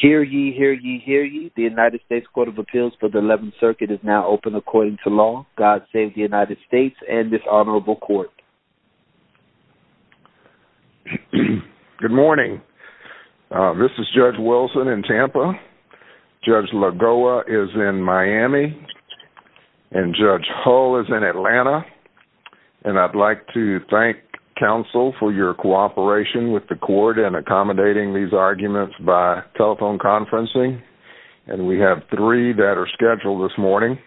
Hear ye, hear ye, hear ye. The United States Court of Appeals for the 11th Circuit is now open according to law. God save the United States and this honorable court. Good morning. This is Judge Wilson in Tampa. Judge Lagoa is in Miami and Judge Hull is in Atlanta and I'd like to thank counsel for your assistance. We have three that are scheduled this morning.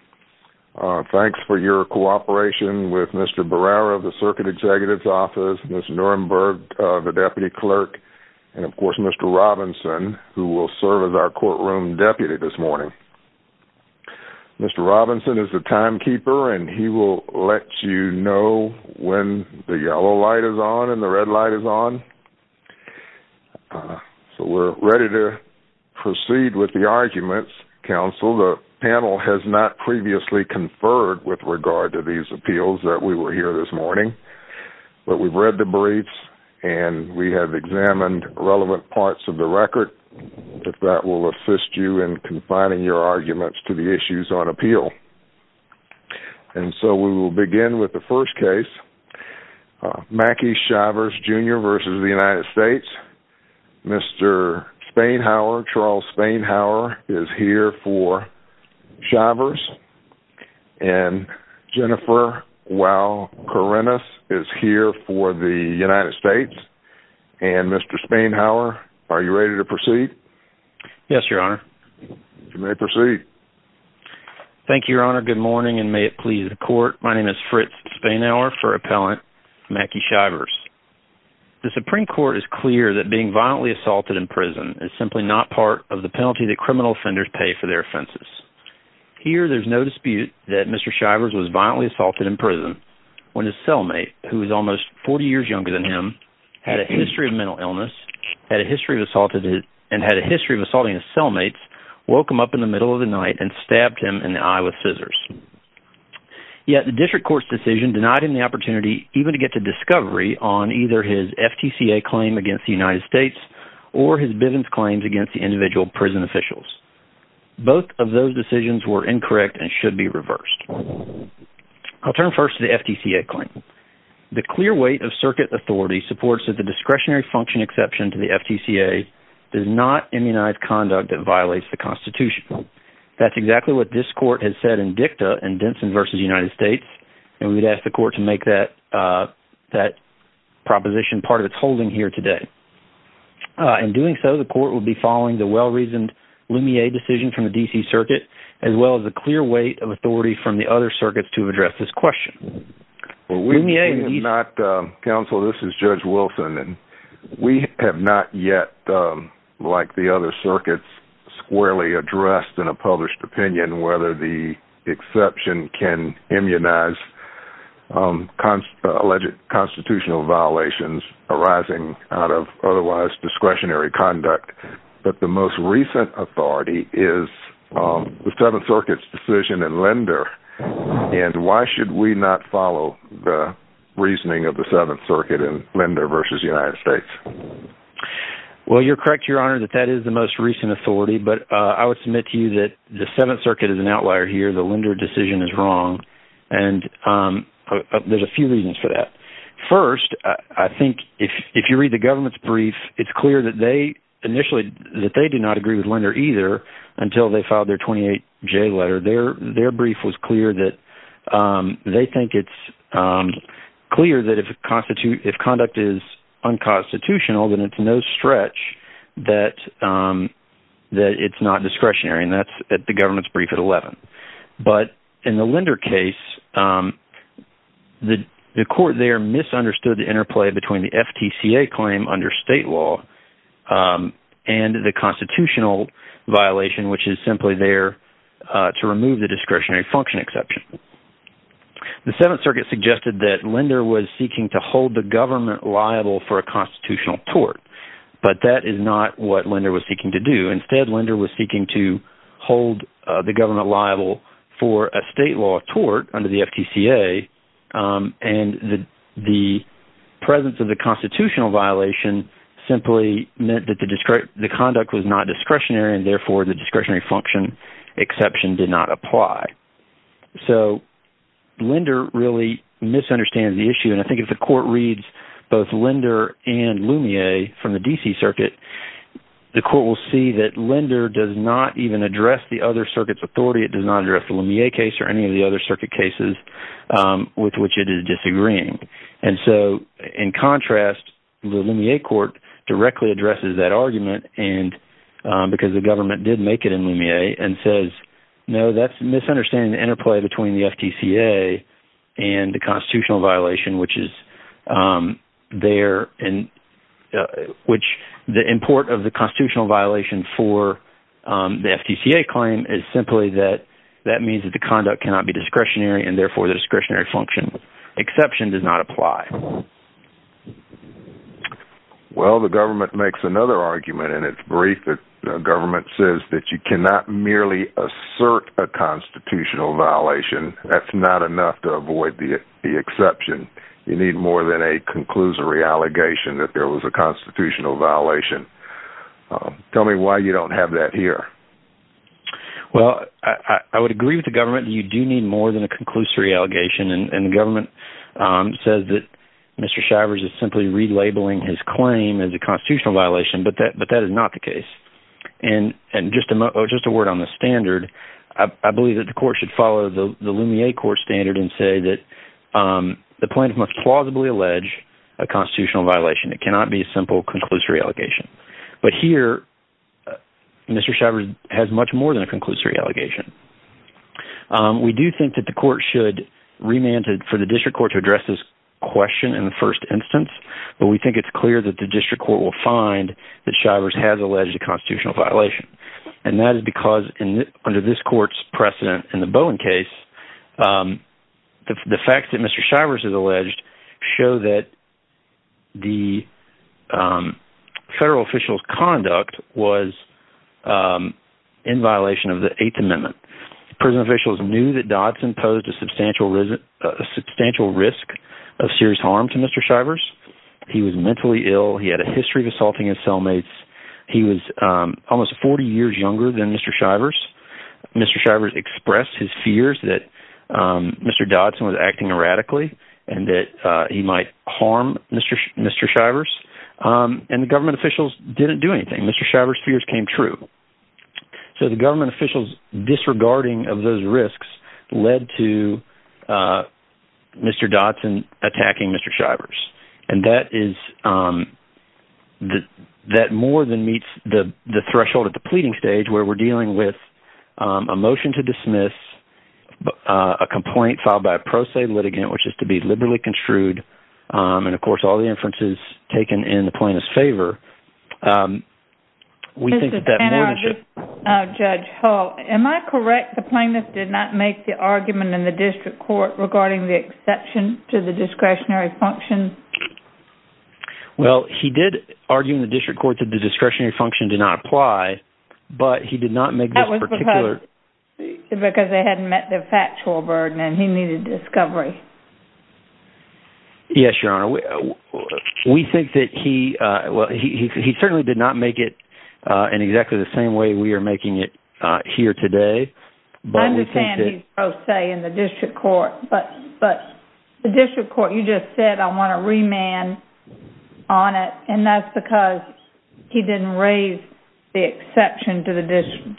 Thanks for your cooperation with Mr. Barrera of the Circuit Executive's Office, Ms. Nuremberg, the Deputy Clerk, and of course Mr. Robinson who will serve as our courtroom deputy this morning. Mr. Robinson is the timekeeper and he will let you know when the yellow light is on and the red light is on. So we're ready to proceed with the arguments. Counsel, the panel has not previously conferred with regard to these appeals that we were here this morning, but we've read the briefs and we have examined relevant parts of the record. If that will assist you in confining your arguments to the issues on appeal. And so we will begin with the first case, Mackie Chavez Jr. vs. the United States. Mr. Spanhower, Charles Spanhower, is here for Chavez and Jennifer Wau-Karenas is here for the United States. And Mr. Spanhower, are you ready to proceed? Yes, Your Honor. You may proceed. Thank you, Your Honor. Good morning and may it My name is Fritz Spanhower for Appellant Mackie Chavez. The Supreme Court is clear that being violently assaulted in prison is simply not part of the penalty that criminal offenders pay for their offenses. Here there's no dispute that Mr. Chavez was violently assaulted in prison when his cellmate, who is almost 40 years younger than him, had a history of mental illness, had a history of assault, and had a history of assaulting his cellmates, woke him up in the district court's decision denied him the opportunity even to get to discovery on either his FTCA claim against the United States or his Bivens claims against the individual prison officials. Both of those decisions were incorrect and should be reversed. I'll turn first to the FTCA claim. The clear weight of circuit authority supports that the discretionary function exception to the FTCA does not immunize conduct that violates the Constitution. That's exactly what this and we'd ask the court to make that that proposition part of its holding here today. In doing so, the court will be following the well-reasoned Lumiere decision from the DC Circuit as well as the clear weight of authority from the other circuits to address this question. Counsel, this is Judge Wilson and we have not yet, like the other circuits, squarely exception can immunize alleged constitutional violations arising out of otherwise discretionary conduct, but the most recent authority is the Seventh Circuit's decision in Lender, and why should we not follow the reasoning of the Seventh Circuit in Lender versus United States? Well, you're correct, Your Honor, that that is the most recent authority, but I would submit to you that the Seventh Circuit is an outlier here, the Lender decision is wrong, and there's a few reasons for that. First, I think if you read the government's brief, it's clear that they initially, that they did not agree with Lender either until they filed their 28-J letter. Their brief was clear that they think it's clear that if conduct is unconstitutional, then it's no discretionary, and that's at the government's brief at 11. But in the Lender case, the court there misunderstood the interplay between the FTCA claim under state law and the constitutional violation, which is simply there to remove the discretionary function exception. The Seventh Circuit suggested that Lender was seeking to hold the government liable for a constitutional tort, but that is not what Lender was seeking to do. Instead, Lender was seeking to hold the government liable for a state law tort under the FTCA, and the presence of the constitutional violation simply meant that the conduct was not discretionary, and therefore the discretionary function exception did not apply. So Lender really misunderstands the issue, and I think if the court reads both Lender and Lumiere from the D.C. Circuit, the court will see that Lender does not even address the other circuit's authority. It does not address the Lumiere case or any of the other circuit cases with which it is disagreeing. And so in contrast, the Lumiere court directly addresses that argument, because the government did make it in Lumiere, and says, no, that's a misunderstanding of the interplay between the FTCA and the Lumiere case, which the import of the constitutional violation for the FTCA claim is simply that that means that the conduct cannot be discretionary, and therefore the discretionary function exception does not apply. Well, the government makes another argument, and it's brief. The government says that you cannot merely assert a constitutional violation. That's not enough to avoid the exception. You need more than a conclusory allegation that there was a constitutional violation. Tell me why you don't have that here. Well, I would agree with the government that you do need more than a conclusory allegation, and the government says that Mr. Shivers is simply relabeling his claim as a constitutional violation, but that is not the case. And just a word on the standard. I believe that the court should follow the Lumiere court standard and say that the plaintiff must plausibly allege a constitutional violation. It cannot be a simple conclusory allegation. But here, Mr. Shivers has much more than a conclusory allegation. We do think that the court should remand it for the district court to address this question in the first instance, but we think it's clear that the district court will find that Shivers has alleged a constitutional violation, and that is because under this court's precedent in the Bowen case, the facts that Mr. Shivers has alleged show that the federal official's conduct was in violation of the Eighth Amendment. Prison officials knew that Dodson posed a substantial risk of serious harm to Mr. Shivers. He was mentally ill. He had a history of Mr. Shivers expressed his fears that Mr. Dodson was acting erratically and that he might harm Mr. Shivers, and the government officials didn't do anything. Mr. Shivers' fears came true. So the government officials' disregarding of those risks led to Mr. Dodson attacking Mr. Shivers, and that is, that more than meets the threshold at the pleading stage where we're dealing with a motion to dismiss, a complaint filed by a pro se litigant, which is to be liberally construed, and of course all the inferences taken in the plaintiff's favor. Judge Hull, am I correct the plaintiff did not make the argument in the district court regarding the exception to the discretionary function? Well, he did argue in the district court that the discretionary function did not apply, but he did not make this particular... That was because they hadn't met the factual burden and he needed discovery. Yes, Your Honor. We think that he, well, he certainly did not make it in exactly the same way we are making it here today, but we think that... I understand he's pro se in the district court, but the district court, you just said, I want to remand on it, and that's because he didn't raise the exception to the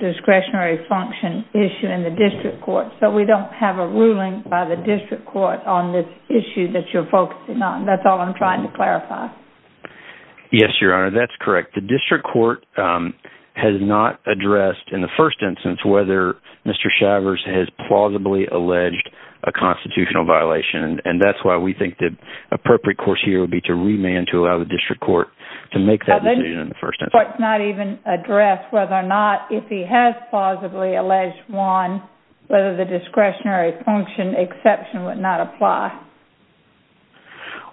discretionary function issue in the district court, so we don't have a ruling by the district court on this issue that you're focusing on. That's all I'm trying to clarify. Yes, Your Honor, that's correct. The district court has not addressed in the first instance whether Mr. Shivers has plausibly alleged a constitutional violation, and that's why we think that appropriate course here would be to remand to allow the district court to make that decision in the first instance. The district court has not even addressed whether or not, if he has plausibly alleged one, whether the discretionary function exception would not apply.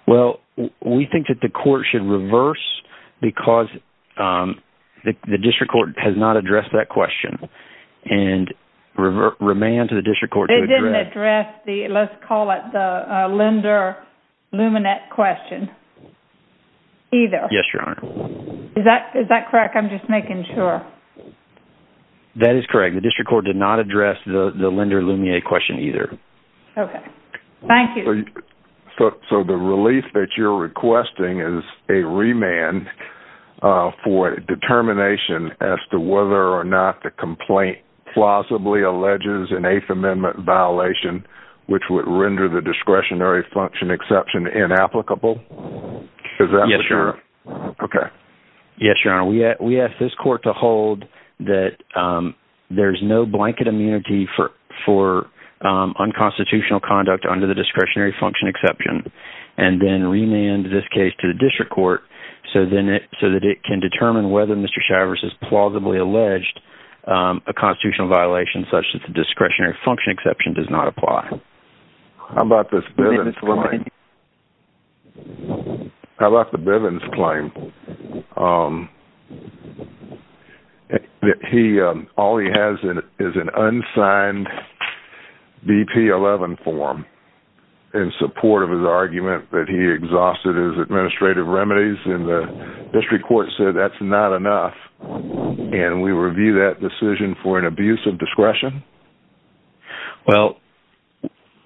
Well, we think that the court should reverse, because the district court has not addressed that question, and remand to the district court... the let's call it the Linder-Lumier question either. Yes, Your Honor. Is that is that correct? I'm just making sure. That is correct. The district court did not address the Linder-Lumier question either. Okay, thank you. So the relief that you're requesting is a remand for determination as to whether or not the which would render the discretionary function exception inapplicable? Yes, Your Honor. Okay. Yes, Your Honor. We ask this court to hold that there's no blanket immunity for unconstitutional conduct under the discretionary function exception, and then remand this case to the district court so then it so that it can determine whether Mr. Shivers has plausibly alleged a constitutional violation such as the discretionary function exception does not apply. How about this Bivens claim? How about the Bivens claim? That he... all he has is an unsigned BP-11 form in support of his argument that he exhausted his administrative remedies, and the district court said that's not enough, and we review that decision for an abuse of discretion? Well,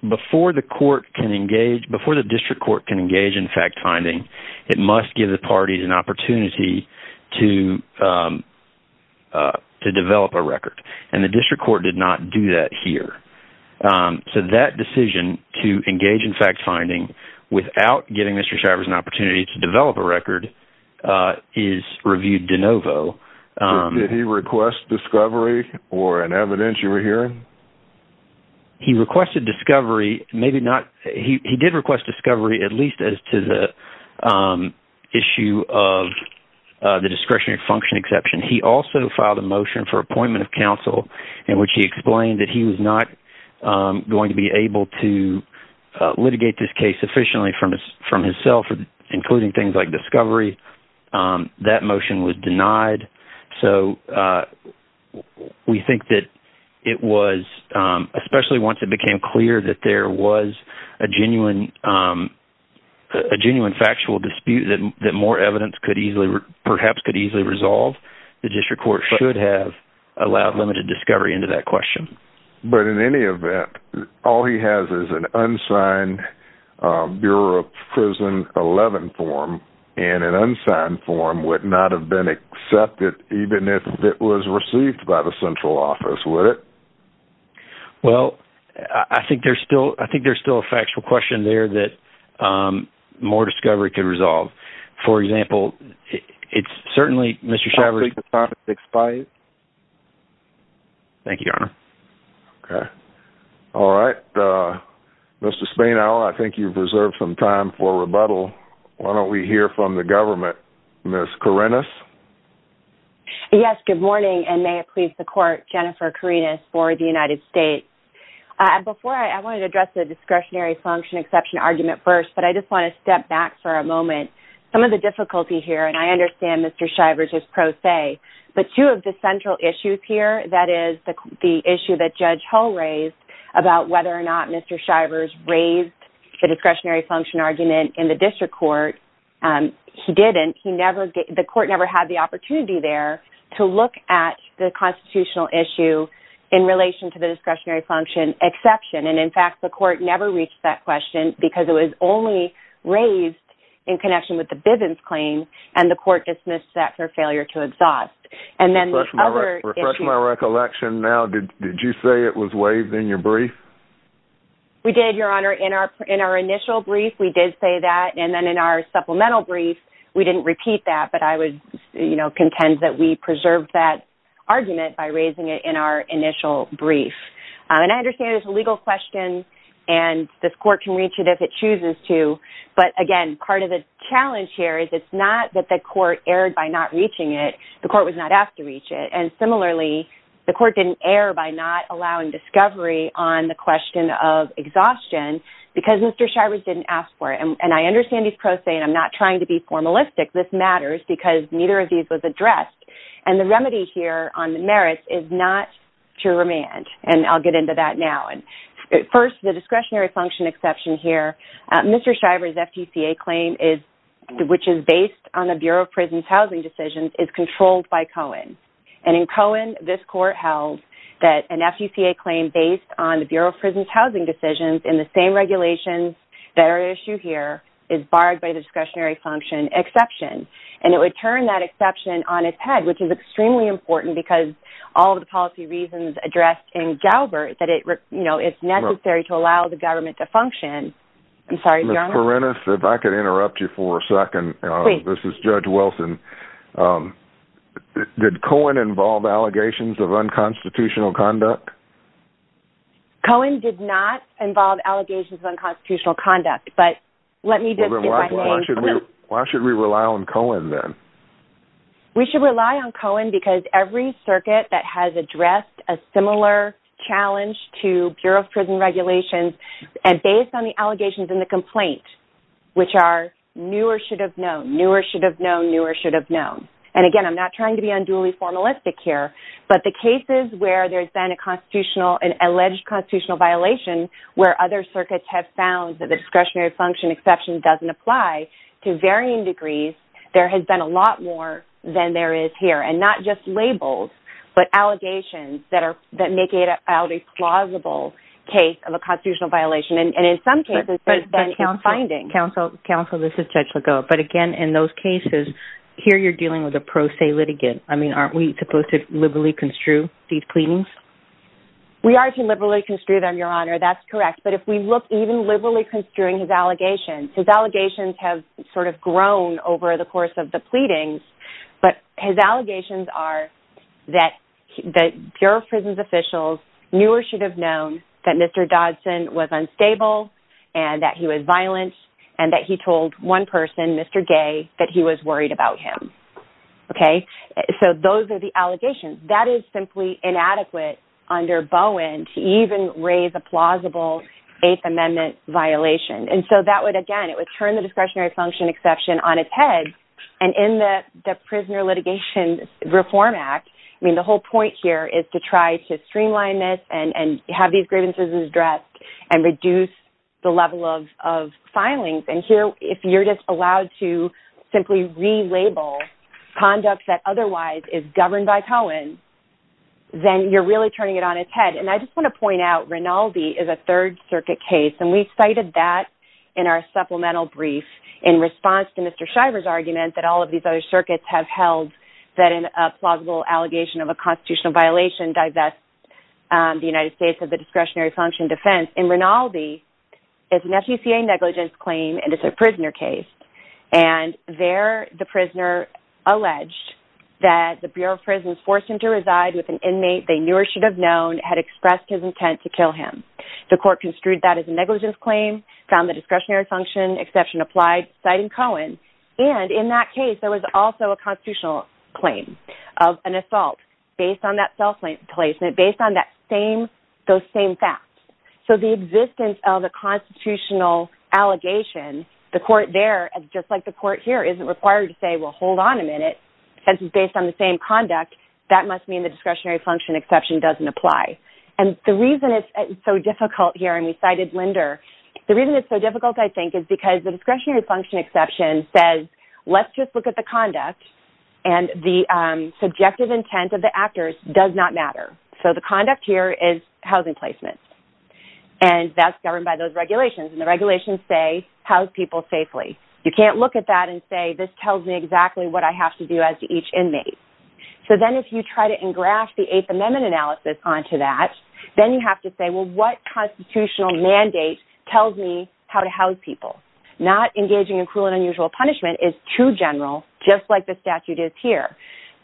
before the court can engage... before the district court can engage in fact-finding, it must give the parties an opportunity to to develop a record, and the district court did not do that here. So that decision to engage in fact-finding without giving Mr. Shivers an opportunity to develop a record is reviewed de novo. Did he request discovery or an evidence you were hearing? He requested discovery, maybe not... he did request discovery at least as to the issue of the discretionary function exception. He also filed a motion for appointment of counsel in which he explained that he was not going to be able to litigate this case sufficiently from his... from himself, including things like discovery. That motion was denied, so we think that it was... especially once it became clear that there was a genuine... a genuine factual dispute that more evidence could easily... perhaps could easily resolve, the district court should have allowed limited discovery into that prison 11 form, and an unsigned form would not have been accepted even if it was received by the central office, would it? Well, I think there's still... I think there's still a factual question there that more discovery could resolve. For example, it's certainly... Mr. Shivers... Thank you, Your Honor. Okay. All right, Mr. Spanauer, I think you've reserved some time for rebuttal. Why don't we hear from the government? Ms. Kourinas? Yes, good morning, and may it please the court, Jennifer Kourinas for the United States. Before I... I wanted to address the discretionary function exception argument first, but I just want to step back for a moment. Some of the difficulty here, and I understand Mr. Shivers is pro se, but two of the central issues here, that is the issue that Judge Hull raised about whether or not Mr. Shivers raised the discretionary function argument in the district court. He didn't. He never... the court never had the opportunity there to look at the constitutional issue in relation to the discretionary function exception, and in fact, the court never reached that question because it was only raised in connection with the Bivens claim, and the court dismissed that for failure to exhaust. And then... Refresh my recollection now. Did you say it was waived in your brief? We did, Your Honor. In our... in our initial brief, we did say that, and then in our supplemental brief, we didn't repeat that, but I would, you know, contend that we preserved that argument by raising it in our initial brief. And I understand it's a legal question, and this court can reach it if it chooses to, but again, part of the challenge here is it's not that the court erred by not reaching it. The court was not asked to reach it, and similarly, the court didn't err by not allowing discovery on the question of exhaustion because Mr. Shivers didn't ask for it, and I understand he's pro se, and I'm not trying to be formalistic. This matters because neither of these was addressed, and the remedy here on the merits is not to remand, and I'll get into that now. And first, the discretionary function exception here. Mr. Shivers' FTCA claim is... which is based on the Bureau of Prisons housing decisions, is controlled by Cohen, and in Cohen, this court held that an FTCA claim based on the Bureau of Prisons housing decisions in the same regulations that are at issue here is barred by the discretionary function exception, and it would turn that exception on its head, which is extremely important because all the policy reasons addressed in Galbert that it, you know, it's necessary to allow the government to function. I'm sorry... Ms. Perennis, if I could interrupt you for a moment. Did Cohen involve allegations of unconstitutional conduct? Cohen did not involve allegations of unconstitutional conduct, but let me just... Why should we rely on Cohen, then? We should rely on Cohen because every circuit that has addressed a similar challenge to Bureau of Prisons regulations, and based on the allegations in the complaint, which are new or should have known, new or should have known, and again, I'm not trying to be unduly formalistic here, but the cases where there's been a constitutional... an alleged constitutional violation where other circuits have found that the discretionary function exception doesn't apply to varying degrees, there has been a lot more than there is here, and not just labels, but allegations that are... that make it out a plausible case of a constitutional violation, and in some cases, there's been findings. Counsel, this is Judge Lagoa, but again, in those cases, here you're dealing with a pro se litigant. I mean, aren't we supposed to liberally construe these pleadings? We are to liberally construe them, Your Honor, that's correct, but if we look even liberally construing his allegations, his allegations have sort of grown over the course of the pleadings, but his allegations are that Bureau of Prisons officials knew or should have known that Mr. Dodson was unstable and that he was violent and that he told one person, Mr. Gay, that he was worried about him, okay? So those are the allegations. That is simply inadequate under Bowen to even raise a plausible Eighth Amendment violation, and so that would, again, it would turn the discretionary function exception on its head, and in the Prisoner Litigation Reform Act, I mean, the whole point here is to try to streamline this and have these grievances addressed and reduce the level of filings, and here, if you're just allowed to simply relabel conduct that otherwise is governed by Cohen, then you're really turning it on its head, and I just want to point out, Rinaldi is a Third Circuit case, and we cited that in our supplemental brief in response to Mr. Shriver's argument that all of these other circuits have held that in a plausible allegation of a constitutional violation, divest the United States of the discretionary function defense, and Rinaldi is an FECA negligence claim, and it's a prisoner case, and there, the prisoner alleged that the Bureau of Prisons forced him to reside with an inmate they knew or should have known had expressed his intent to kill him. The court construed that as a negligence claim, found the discretionary function exception applied, citing Cohen, and in that case, there was also a constitutional claim of an assault based on that self-placement, based on those same facts, so the existence of the constitutional allegation, the court there, just like the court here, isn't required to say, well, hold on a minute, since it's based on the same conduct, that must mean the discretionary function exception doesn't apply, and the reason it's so difficult here, and we cited Linder, the reason it's so difficult, I think, is because the discretionary function exception says, let's just look at the conduct, and the conduct here is housing placement, and that's governed by those regulations, and the regulations say, house people safely. You can't look at that and say, this tells me exactly what I have to do as to each inmate, so then, if you try to engraft the Eighth Amendment analysis onto that, then you have to say, well, what constitutional mandate tells me how to house people? Not engaging in cruel and unusual punishment is too general, just like the statute is here,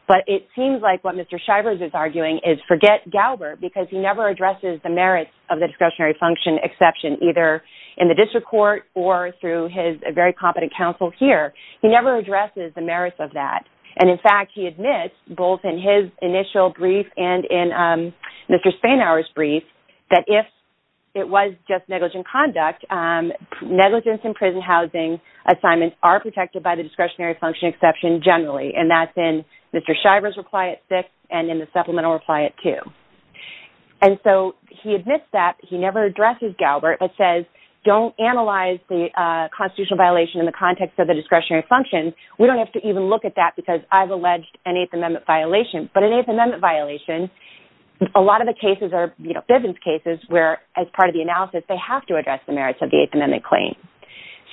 but it seems like what Mr. Shivers is arguing is, forget Galbert, because he never addresses the merits of the discretionary function exception, either in the district court or through his very competent counsel here. He never addresses the merits of that, and in fact, he admits, both in his initial brief and in Mr. Spanauer's brief, that if it was just negligent conduct, negligence in prison housing assignments are protected by the discretionary function exception generally, and that's in Mr. Shivers' reply at six and in the supplemental reply at two, and so he admits that. He never addresses Galbert, but says, don't analyze the constitutional violation in the context of the discretionary function. We don't have to even look at that because I've alleged an Eighth Amendment violation, but an Eighth Amendment violation, a lot of the cases are, you know, Bivens cases, where, as part of the analysis, they have to address the merits of the Eighth Amendment claim,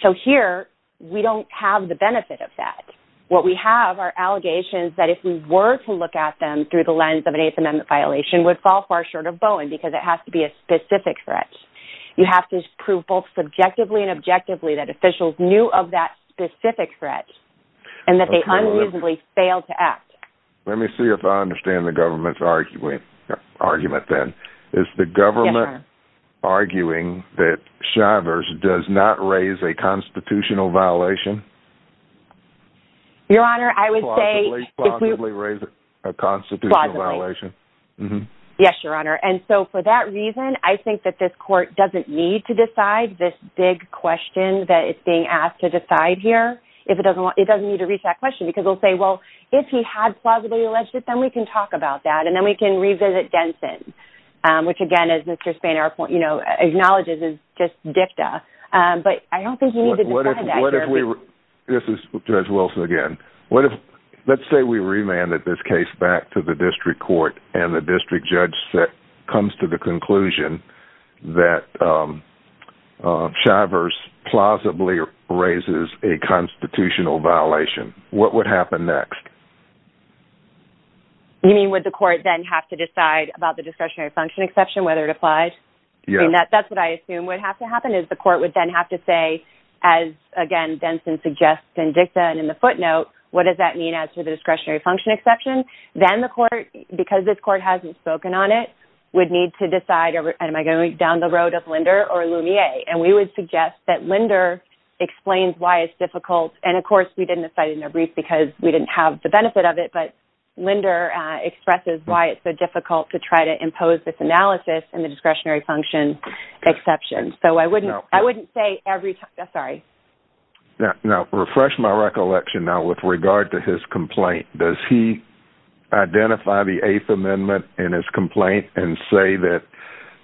so here, we don't have the benefit of that. What we have are allegations that, if we were to look at them through the lens of an Eighth Amendment violation, would fall far short of Bowen, because it has to be a specific threat. You have to prove, both subjectively and objectively, that officials knew of that specific threat, and that they unusably failed to act. Let me see if I understand the government's argument, then. Is the government arguing that Shivers does not raise a constitutional violation? Your Honor, I would say, yes, Your Honor, and so, for that reason, I think that this court doesn't need to decide this big question that it's being asked to decide here. It doesn't need to reach that question, because they'll say, well, if he had plausibly alleged it, then we can talk about that, and then we can revisit Denson, which, again, as Mr. Spanier, you know, acknowledges is just This is Judge Wilson again. Let's say we remanded this case back to the district court, and the district judge comes to the conclusion that Shivers plausibly raises a constitutional violation. What would happen next? You mean, would the court then have to decide about the discretionary function exception, whether it applies? Yes. That's what I assume would have to say. As, again, Denson suggests in dicta and in the footnote, what does that mean as to the discretionary function exception? Then the court, because this court hasn't spoken on it, would need to decide, am I going down the road of Linder or Lumiere, and we would suggest that Linder explains why it's difficult, and, of course, we didn't decide in their brief because we didn't have the benefit of it, but Linder expresses why it's so difficult to try to impose this analysis in the discretionary function exception. So I wouldn't say every time. Now, refresh my recollection now with regard to his complaint. Does he identify the Eighth Amendment in his complaint and say that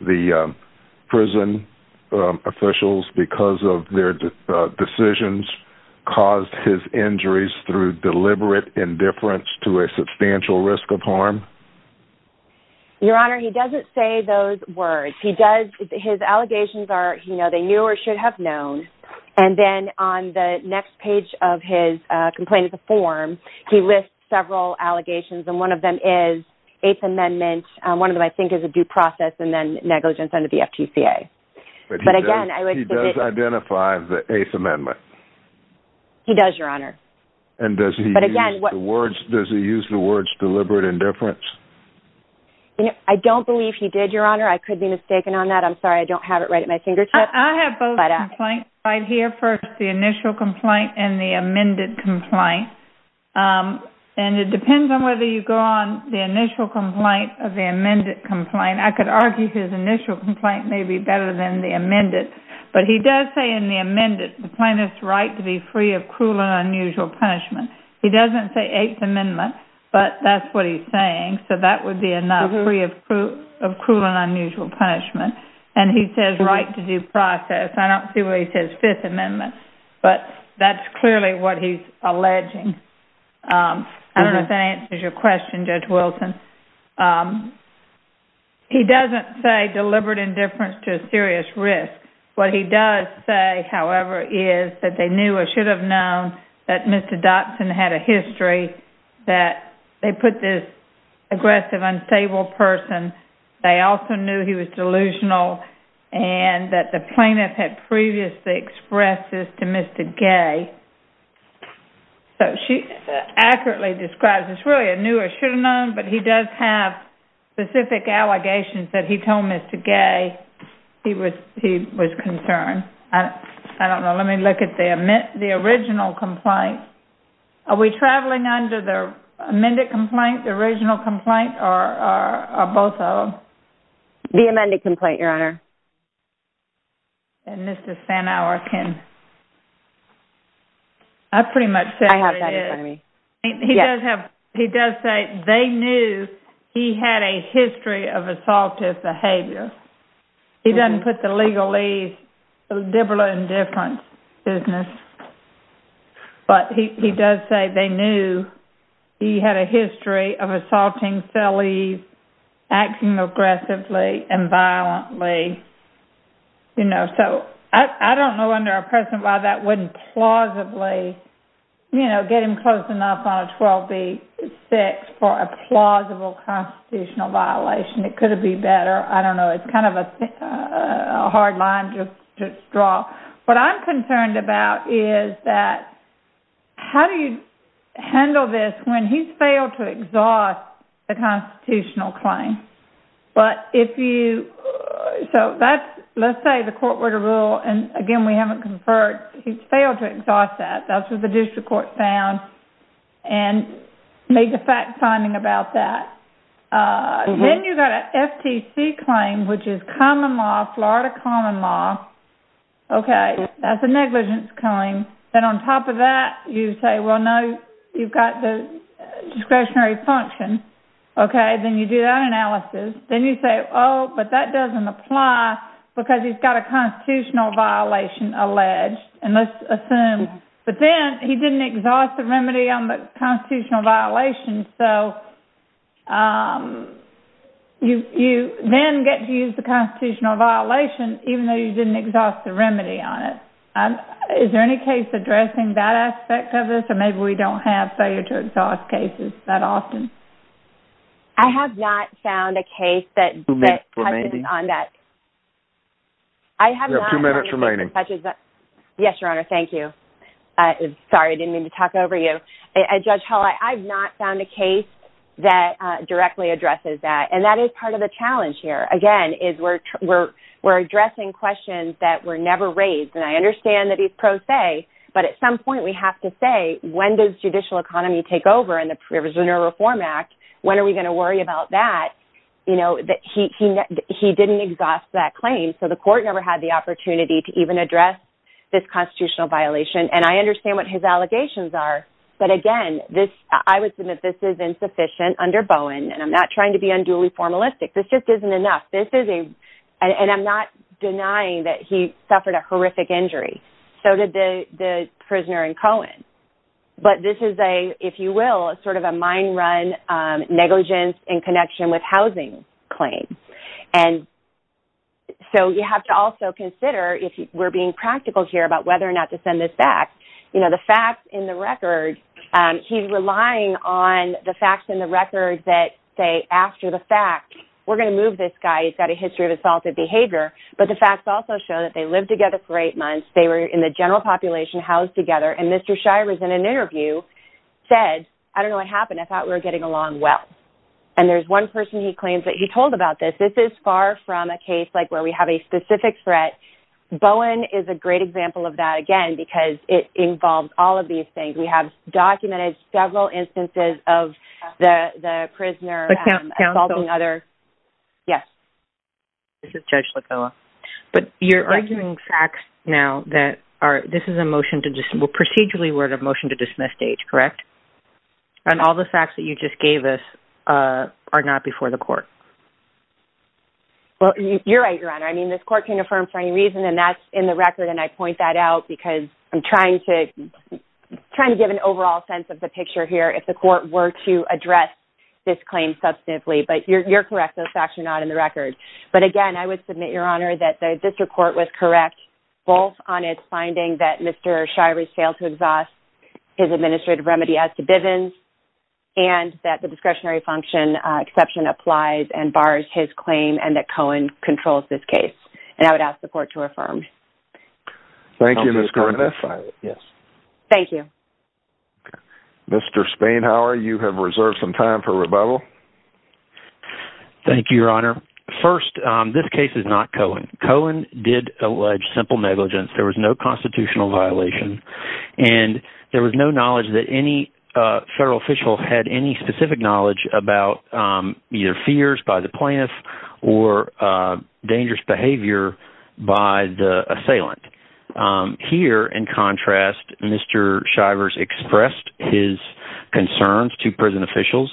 the prison officials, because of their decisions, caused his injuries through deliberate indifference to a substantial risk of harm? Your Honor, he doesn't say those words. He does, his allegations are, you know, they knew or should have known, and then on the next page of his complaint, the form, he lists several allegations, and one of them is Eighth Amendment. One of them, I think, is a due process and then negligence under the FTCA. But again, he does identify the Eighth Amendment. He doesn't say the words. Does he use the words deliberate indifference? I don't believe he did, Your Honor. I could be mistaken on that. I'm sorry, I don't have it right at my fingertips. I have both complaints right here. First, the initial complaint and the amended complaint, and it depends on whether you go on the initial complaint of the amended complaint. I could argue his initial complaint may be better than the amended, but he does say in the amended the plaintiff's right to be free of cruel and unusual punishment. He doesn't say Eighth Amendment, but that's what he's saying, so that would be enough free of cruel and unusual punishment, and he says right to due process. I don't see where he says Fifth Amendment, but that's clearly what he's alleging. I don't know if that answers your question, Judge Wilson. He doesn't say deliberate indifference to a serious risk. What he does say, however, is that they knew or should have known that Mr. Dotson had a history that they put this aggressive, unstable person. They also knew he was delusional, and that the plaintiff had previously expressed this to Mr. Gay. So she accurately describes this really a knew or should have known, but he does have specific allegations that he told Mr. Gay he was he was concerned. I don't know. Let me look at the original complaint. Are we traveling under the amended complaint, the original complaint, or both of them? The amended complaint, Your Honor. And Mr. Sanauer can... I pretty much said it. He does say they knew he had a history of assaultive behavior. He doesn't put the legalese, deliberate indifference, business, but he does say they knew he had a history of assaulting felonies, acting aggressively and violently, you know. So I don't know under a precedent why that wouldn't plausibly, you know, get him close enough on a 12b6 for a plausible constitutional violation. It could have been better. I don't know. It's kind of a hard line to draw. What I'm concerned about is that how do you handle this when he's failed to exhaust the constitutional claim? But if you... so that's, let's say, the court order rule, and again we haven't conferred, he's failed to exhaust that. That's what the district court found and made the fact-finding about that. Then you've got an FTC claim, which is common law, Florida common law. Okay, that's a negligence claim. Then on top of that, you say, well, no, you've got the discretionary function. Okay, then you do that analysis. Then you say, oh, but that doesn't apply because he's got a constitutional violation alleged. And let's assume, but then he didn't exhaust the remedy on the constitutional violation. So you then get to use the constitutional violation even though you didn't exhaust the remedy on it. Is there any case addressing that aspect of this? Or maybe we don't have failure to exhaust cases that often. I have not found a case that touches on that. I have not found a case that directly addresses that. And that is part of the challenge here. Again, is we're addressing questions that were never raised. And I understand that he's pro se, but at some point we have to say, when does judicial economy take over in the Prisoner Reform Act? When are we going to worry about that? He didn't exhaust that claim, so the court never had the opportunity to even address this constitutional violation. And I understand what his allegations are, but again, I would submit this is insufficient under Bowen. And I'm not trying to be unduly formalistic. This just isn't enough. And I'm not denying that he suffered a horrific injury. So did the prisoner in Cohen. But this is a, if you will, a sort of a mind-run negligence in connection with housing claims. And so you have to also consider, if we're being practical here about whether or not to send this back, you know, the facts in the record. He's relying on the facts in the record that say, after the fact, we're going to move this guy. He's got a history of assaulted behavior. But the facts also show that they lived together for eight months. They were in the general population, housed together. And Mr. Shires, in an interview, said, I don't know what happened. I thought we were getting along well. And there's one person he claims that he told about this. This is far from a case like where we have a specific threat. Bowen is a great example of that, again, because it involves all of these things. We have documented several instances of the prisoner assaulting other. Yes. This is Judge Lagoa. But you're arguing facts now that are, this is a motion to just, well, procedurally we're at a motion-to-dismiss stage, correct? And all the facts that you just gave us are not before the court. Well, you're right, Your Honor. I mean, this court can affirm for any reason, and that's in the record. And I point that out because I'm trying to, trying to give an overall sense of the picture here, if the court were to address this claim substantively. But you're correct, those facts are not in the record. But again, I would submit, Your Honor, that this report was correct, both on its finding that Mr. Shires failed to exhaust his administrative remedy as to Bivens, and that the discretionary function exception applies and bars his claim, and that Cohen controls this case. And I would ask the court to affirm. Thank you, Ms. Kornath. Yes. Thank you. Mr. Spainhower, you have reserved some time for questions. Thank you, Your Honor. First, this case is not Cohen. Cohen did allege simple negligence. There was no constitutional violation. And there was no knowledge that any federal official had any specific knowledge about either fears by the plaintiff or dangerous behavior by the assailant. Here, in contrast, Mr. Shivers expressed his concerns to prison officials.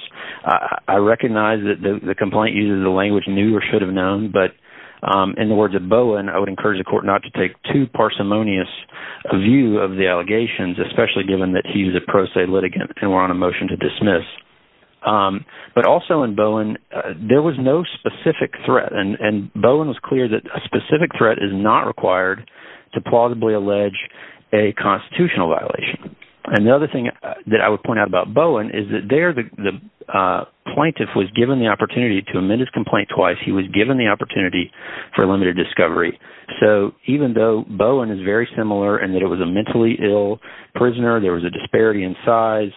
I recognize that the complaint uses the language knew or should have known, but in the words of Bowen, I would encourage the court not to take too parsimonious a view of the allegations, especially given that he's a pro se litigant, and we're on a motion to dismiss. But also in Bowen, there was no specific threat, and Bowen was clear that a specific threat is not required to plausibly allege a constitutional violation. And the other thing that I would point out about Bowen is that there, the plaintiff was given the opportunity to amend his complaint twice. He was given the opportunity for limited discovery. So even though Bowen is very similar in that it was a mentally ill prisoner, there was a disparity in size,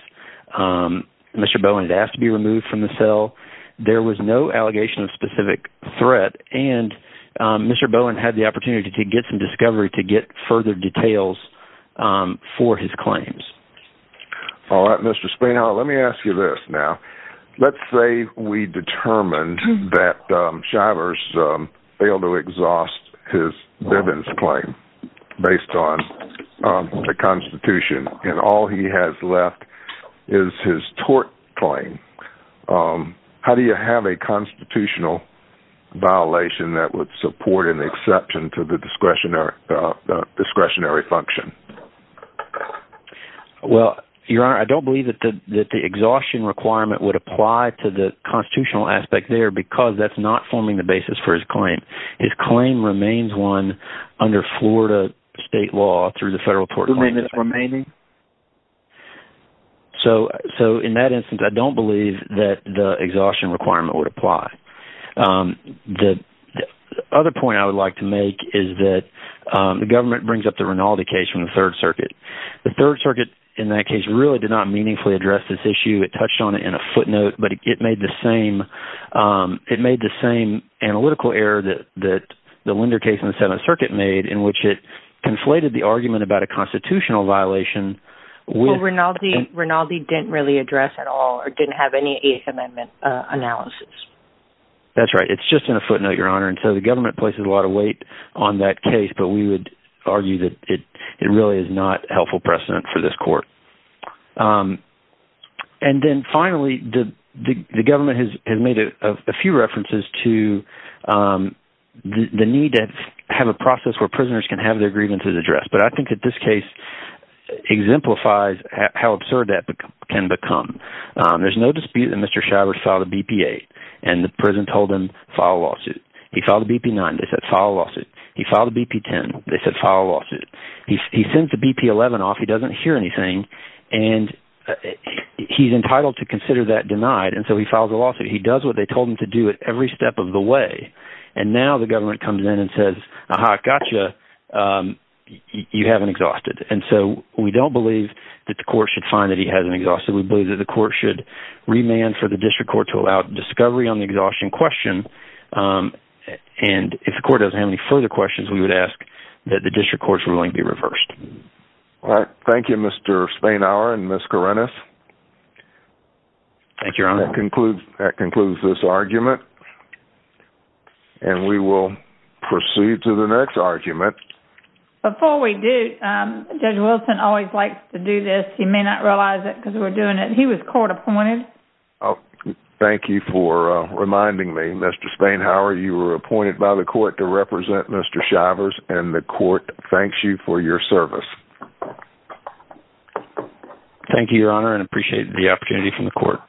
Mr. Bowen had asked to be removed from the cell, there was no allegation of specific threat, and Mr. Bowen had the opportunity to get some discovery to get further details for his claims. All right Mr. Springhall, let me ask you this now. Let's say we determined that Shivers failed to exhaust his Bivens claim based on the Constitution, and all he has left is his tort claim. How do you have a constitutional violation that would support an exception to the discretion discretionary function? Well, Your Honor, I don't believe that the exhaustion requirement would apply to the constitutional aspect there because that's not forming the basis for his claim. His claim remains one under Florida state law through the federal tort claim. So in that instance, I don't believe that the exhaustion requirement would apply. The other point I would like to make is that the government brings up the Rinaldi case from the Third Circuit. The Third Circuit in that case really did not meaningfully address this issue. It touched on it in a footnote, but it made the same analytical error that the Linder case in the Seventh Circuit made in which it conflated the argument about a constitutional violation. Well, Rinaldi didn't really address at all or didn't have any Eighth Amendment analysis. That's right. It's just in a lot of weight on that case, but we would argue that it really is not helpful precedent for this court. And then finally, the government has made a few references to the need to have a process where prisoners can have their grievances addressed, but I think that this case exemplifies how absurd that can become. There's no dispute that Mr. Shivers filed a BP-8 and the lawsuit. He filed a BP-10. They said file a lawsuit. He sends the BP-11 off. He doesn't hear anything, and he's entitled to consider that denied, and so he filed a lawsuit. He does what they told him to do at every step of the way, and now the government comes in and says, aha, gotcha, you haven't exhausted. And so we don't believe that the court should find that he hasn't exhausted. We believe that the court should remand for the district court to allow discovery on the any further questions, we would ask that the district court's ruling be reversed. All right. Thank you, Mr. Spanauer and Ms. Karenas. Thank you, Your Honor. That concludes this argument, and we will proceed to the next argument. Before we do, Judge Wilson always likes to do this. He may not realize it because we're doing it. He was court-appointed. Oh, thank you for reminding me, Mr. Spanauer. You were appointed by the court to represent Mr. Shivers, and the court thanks you for your service. Thank you, Your Honor, and I appreciate the opportunity from the court.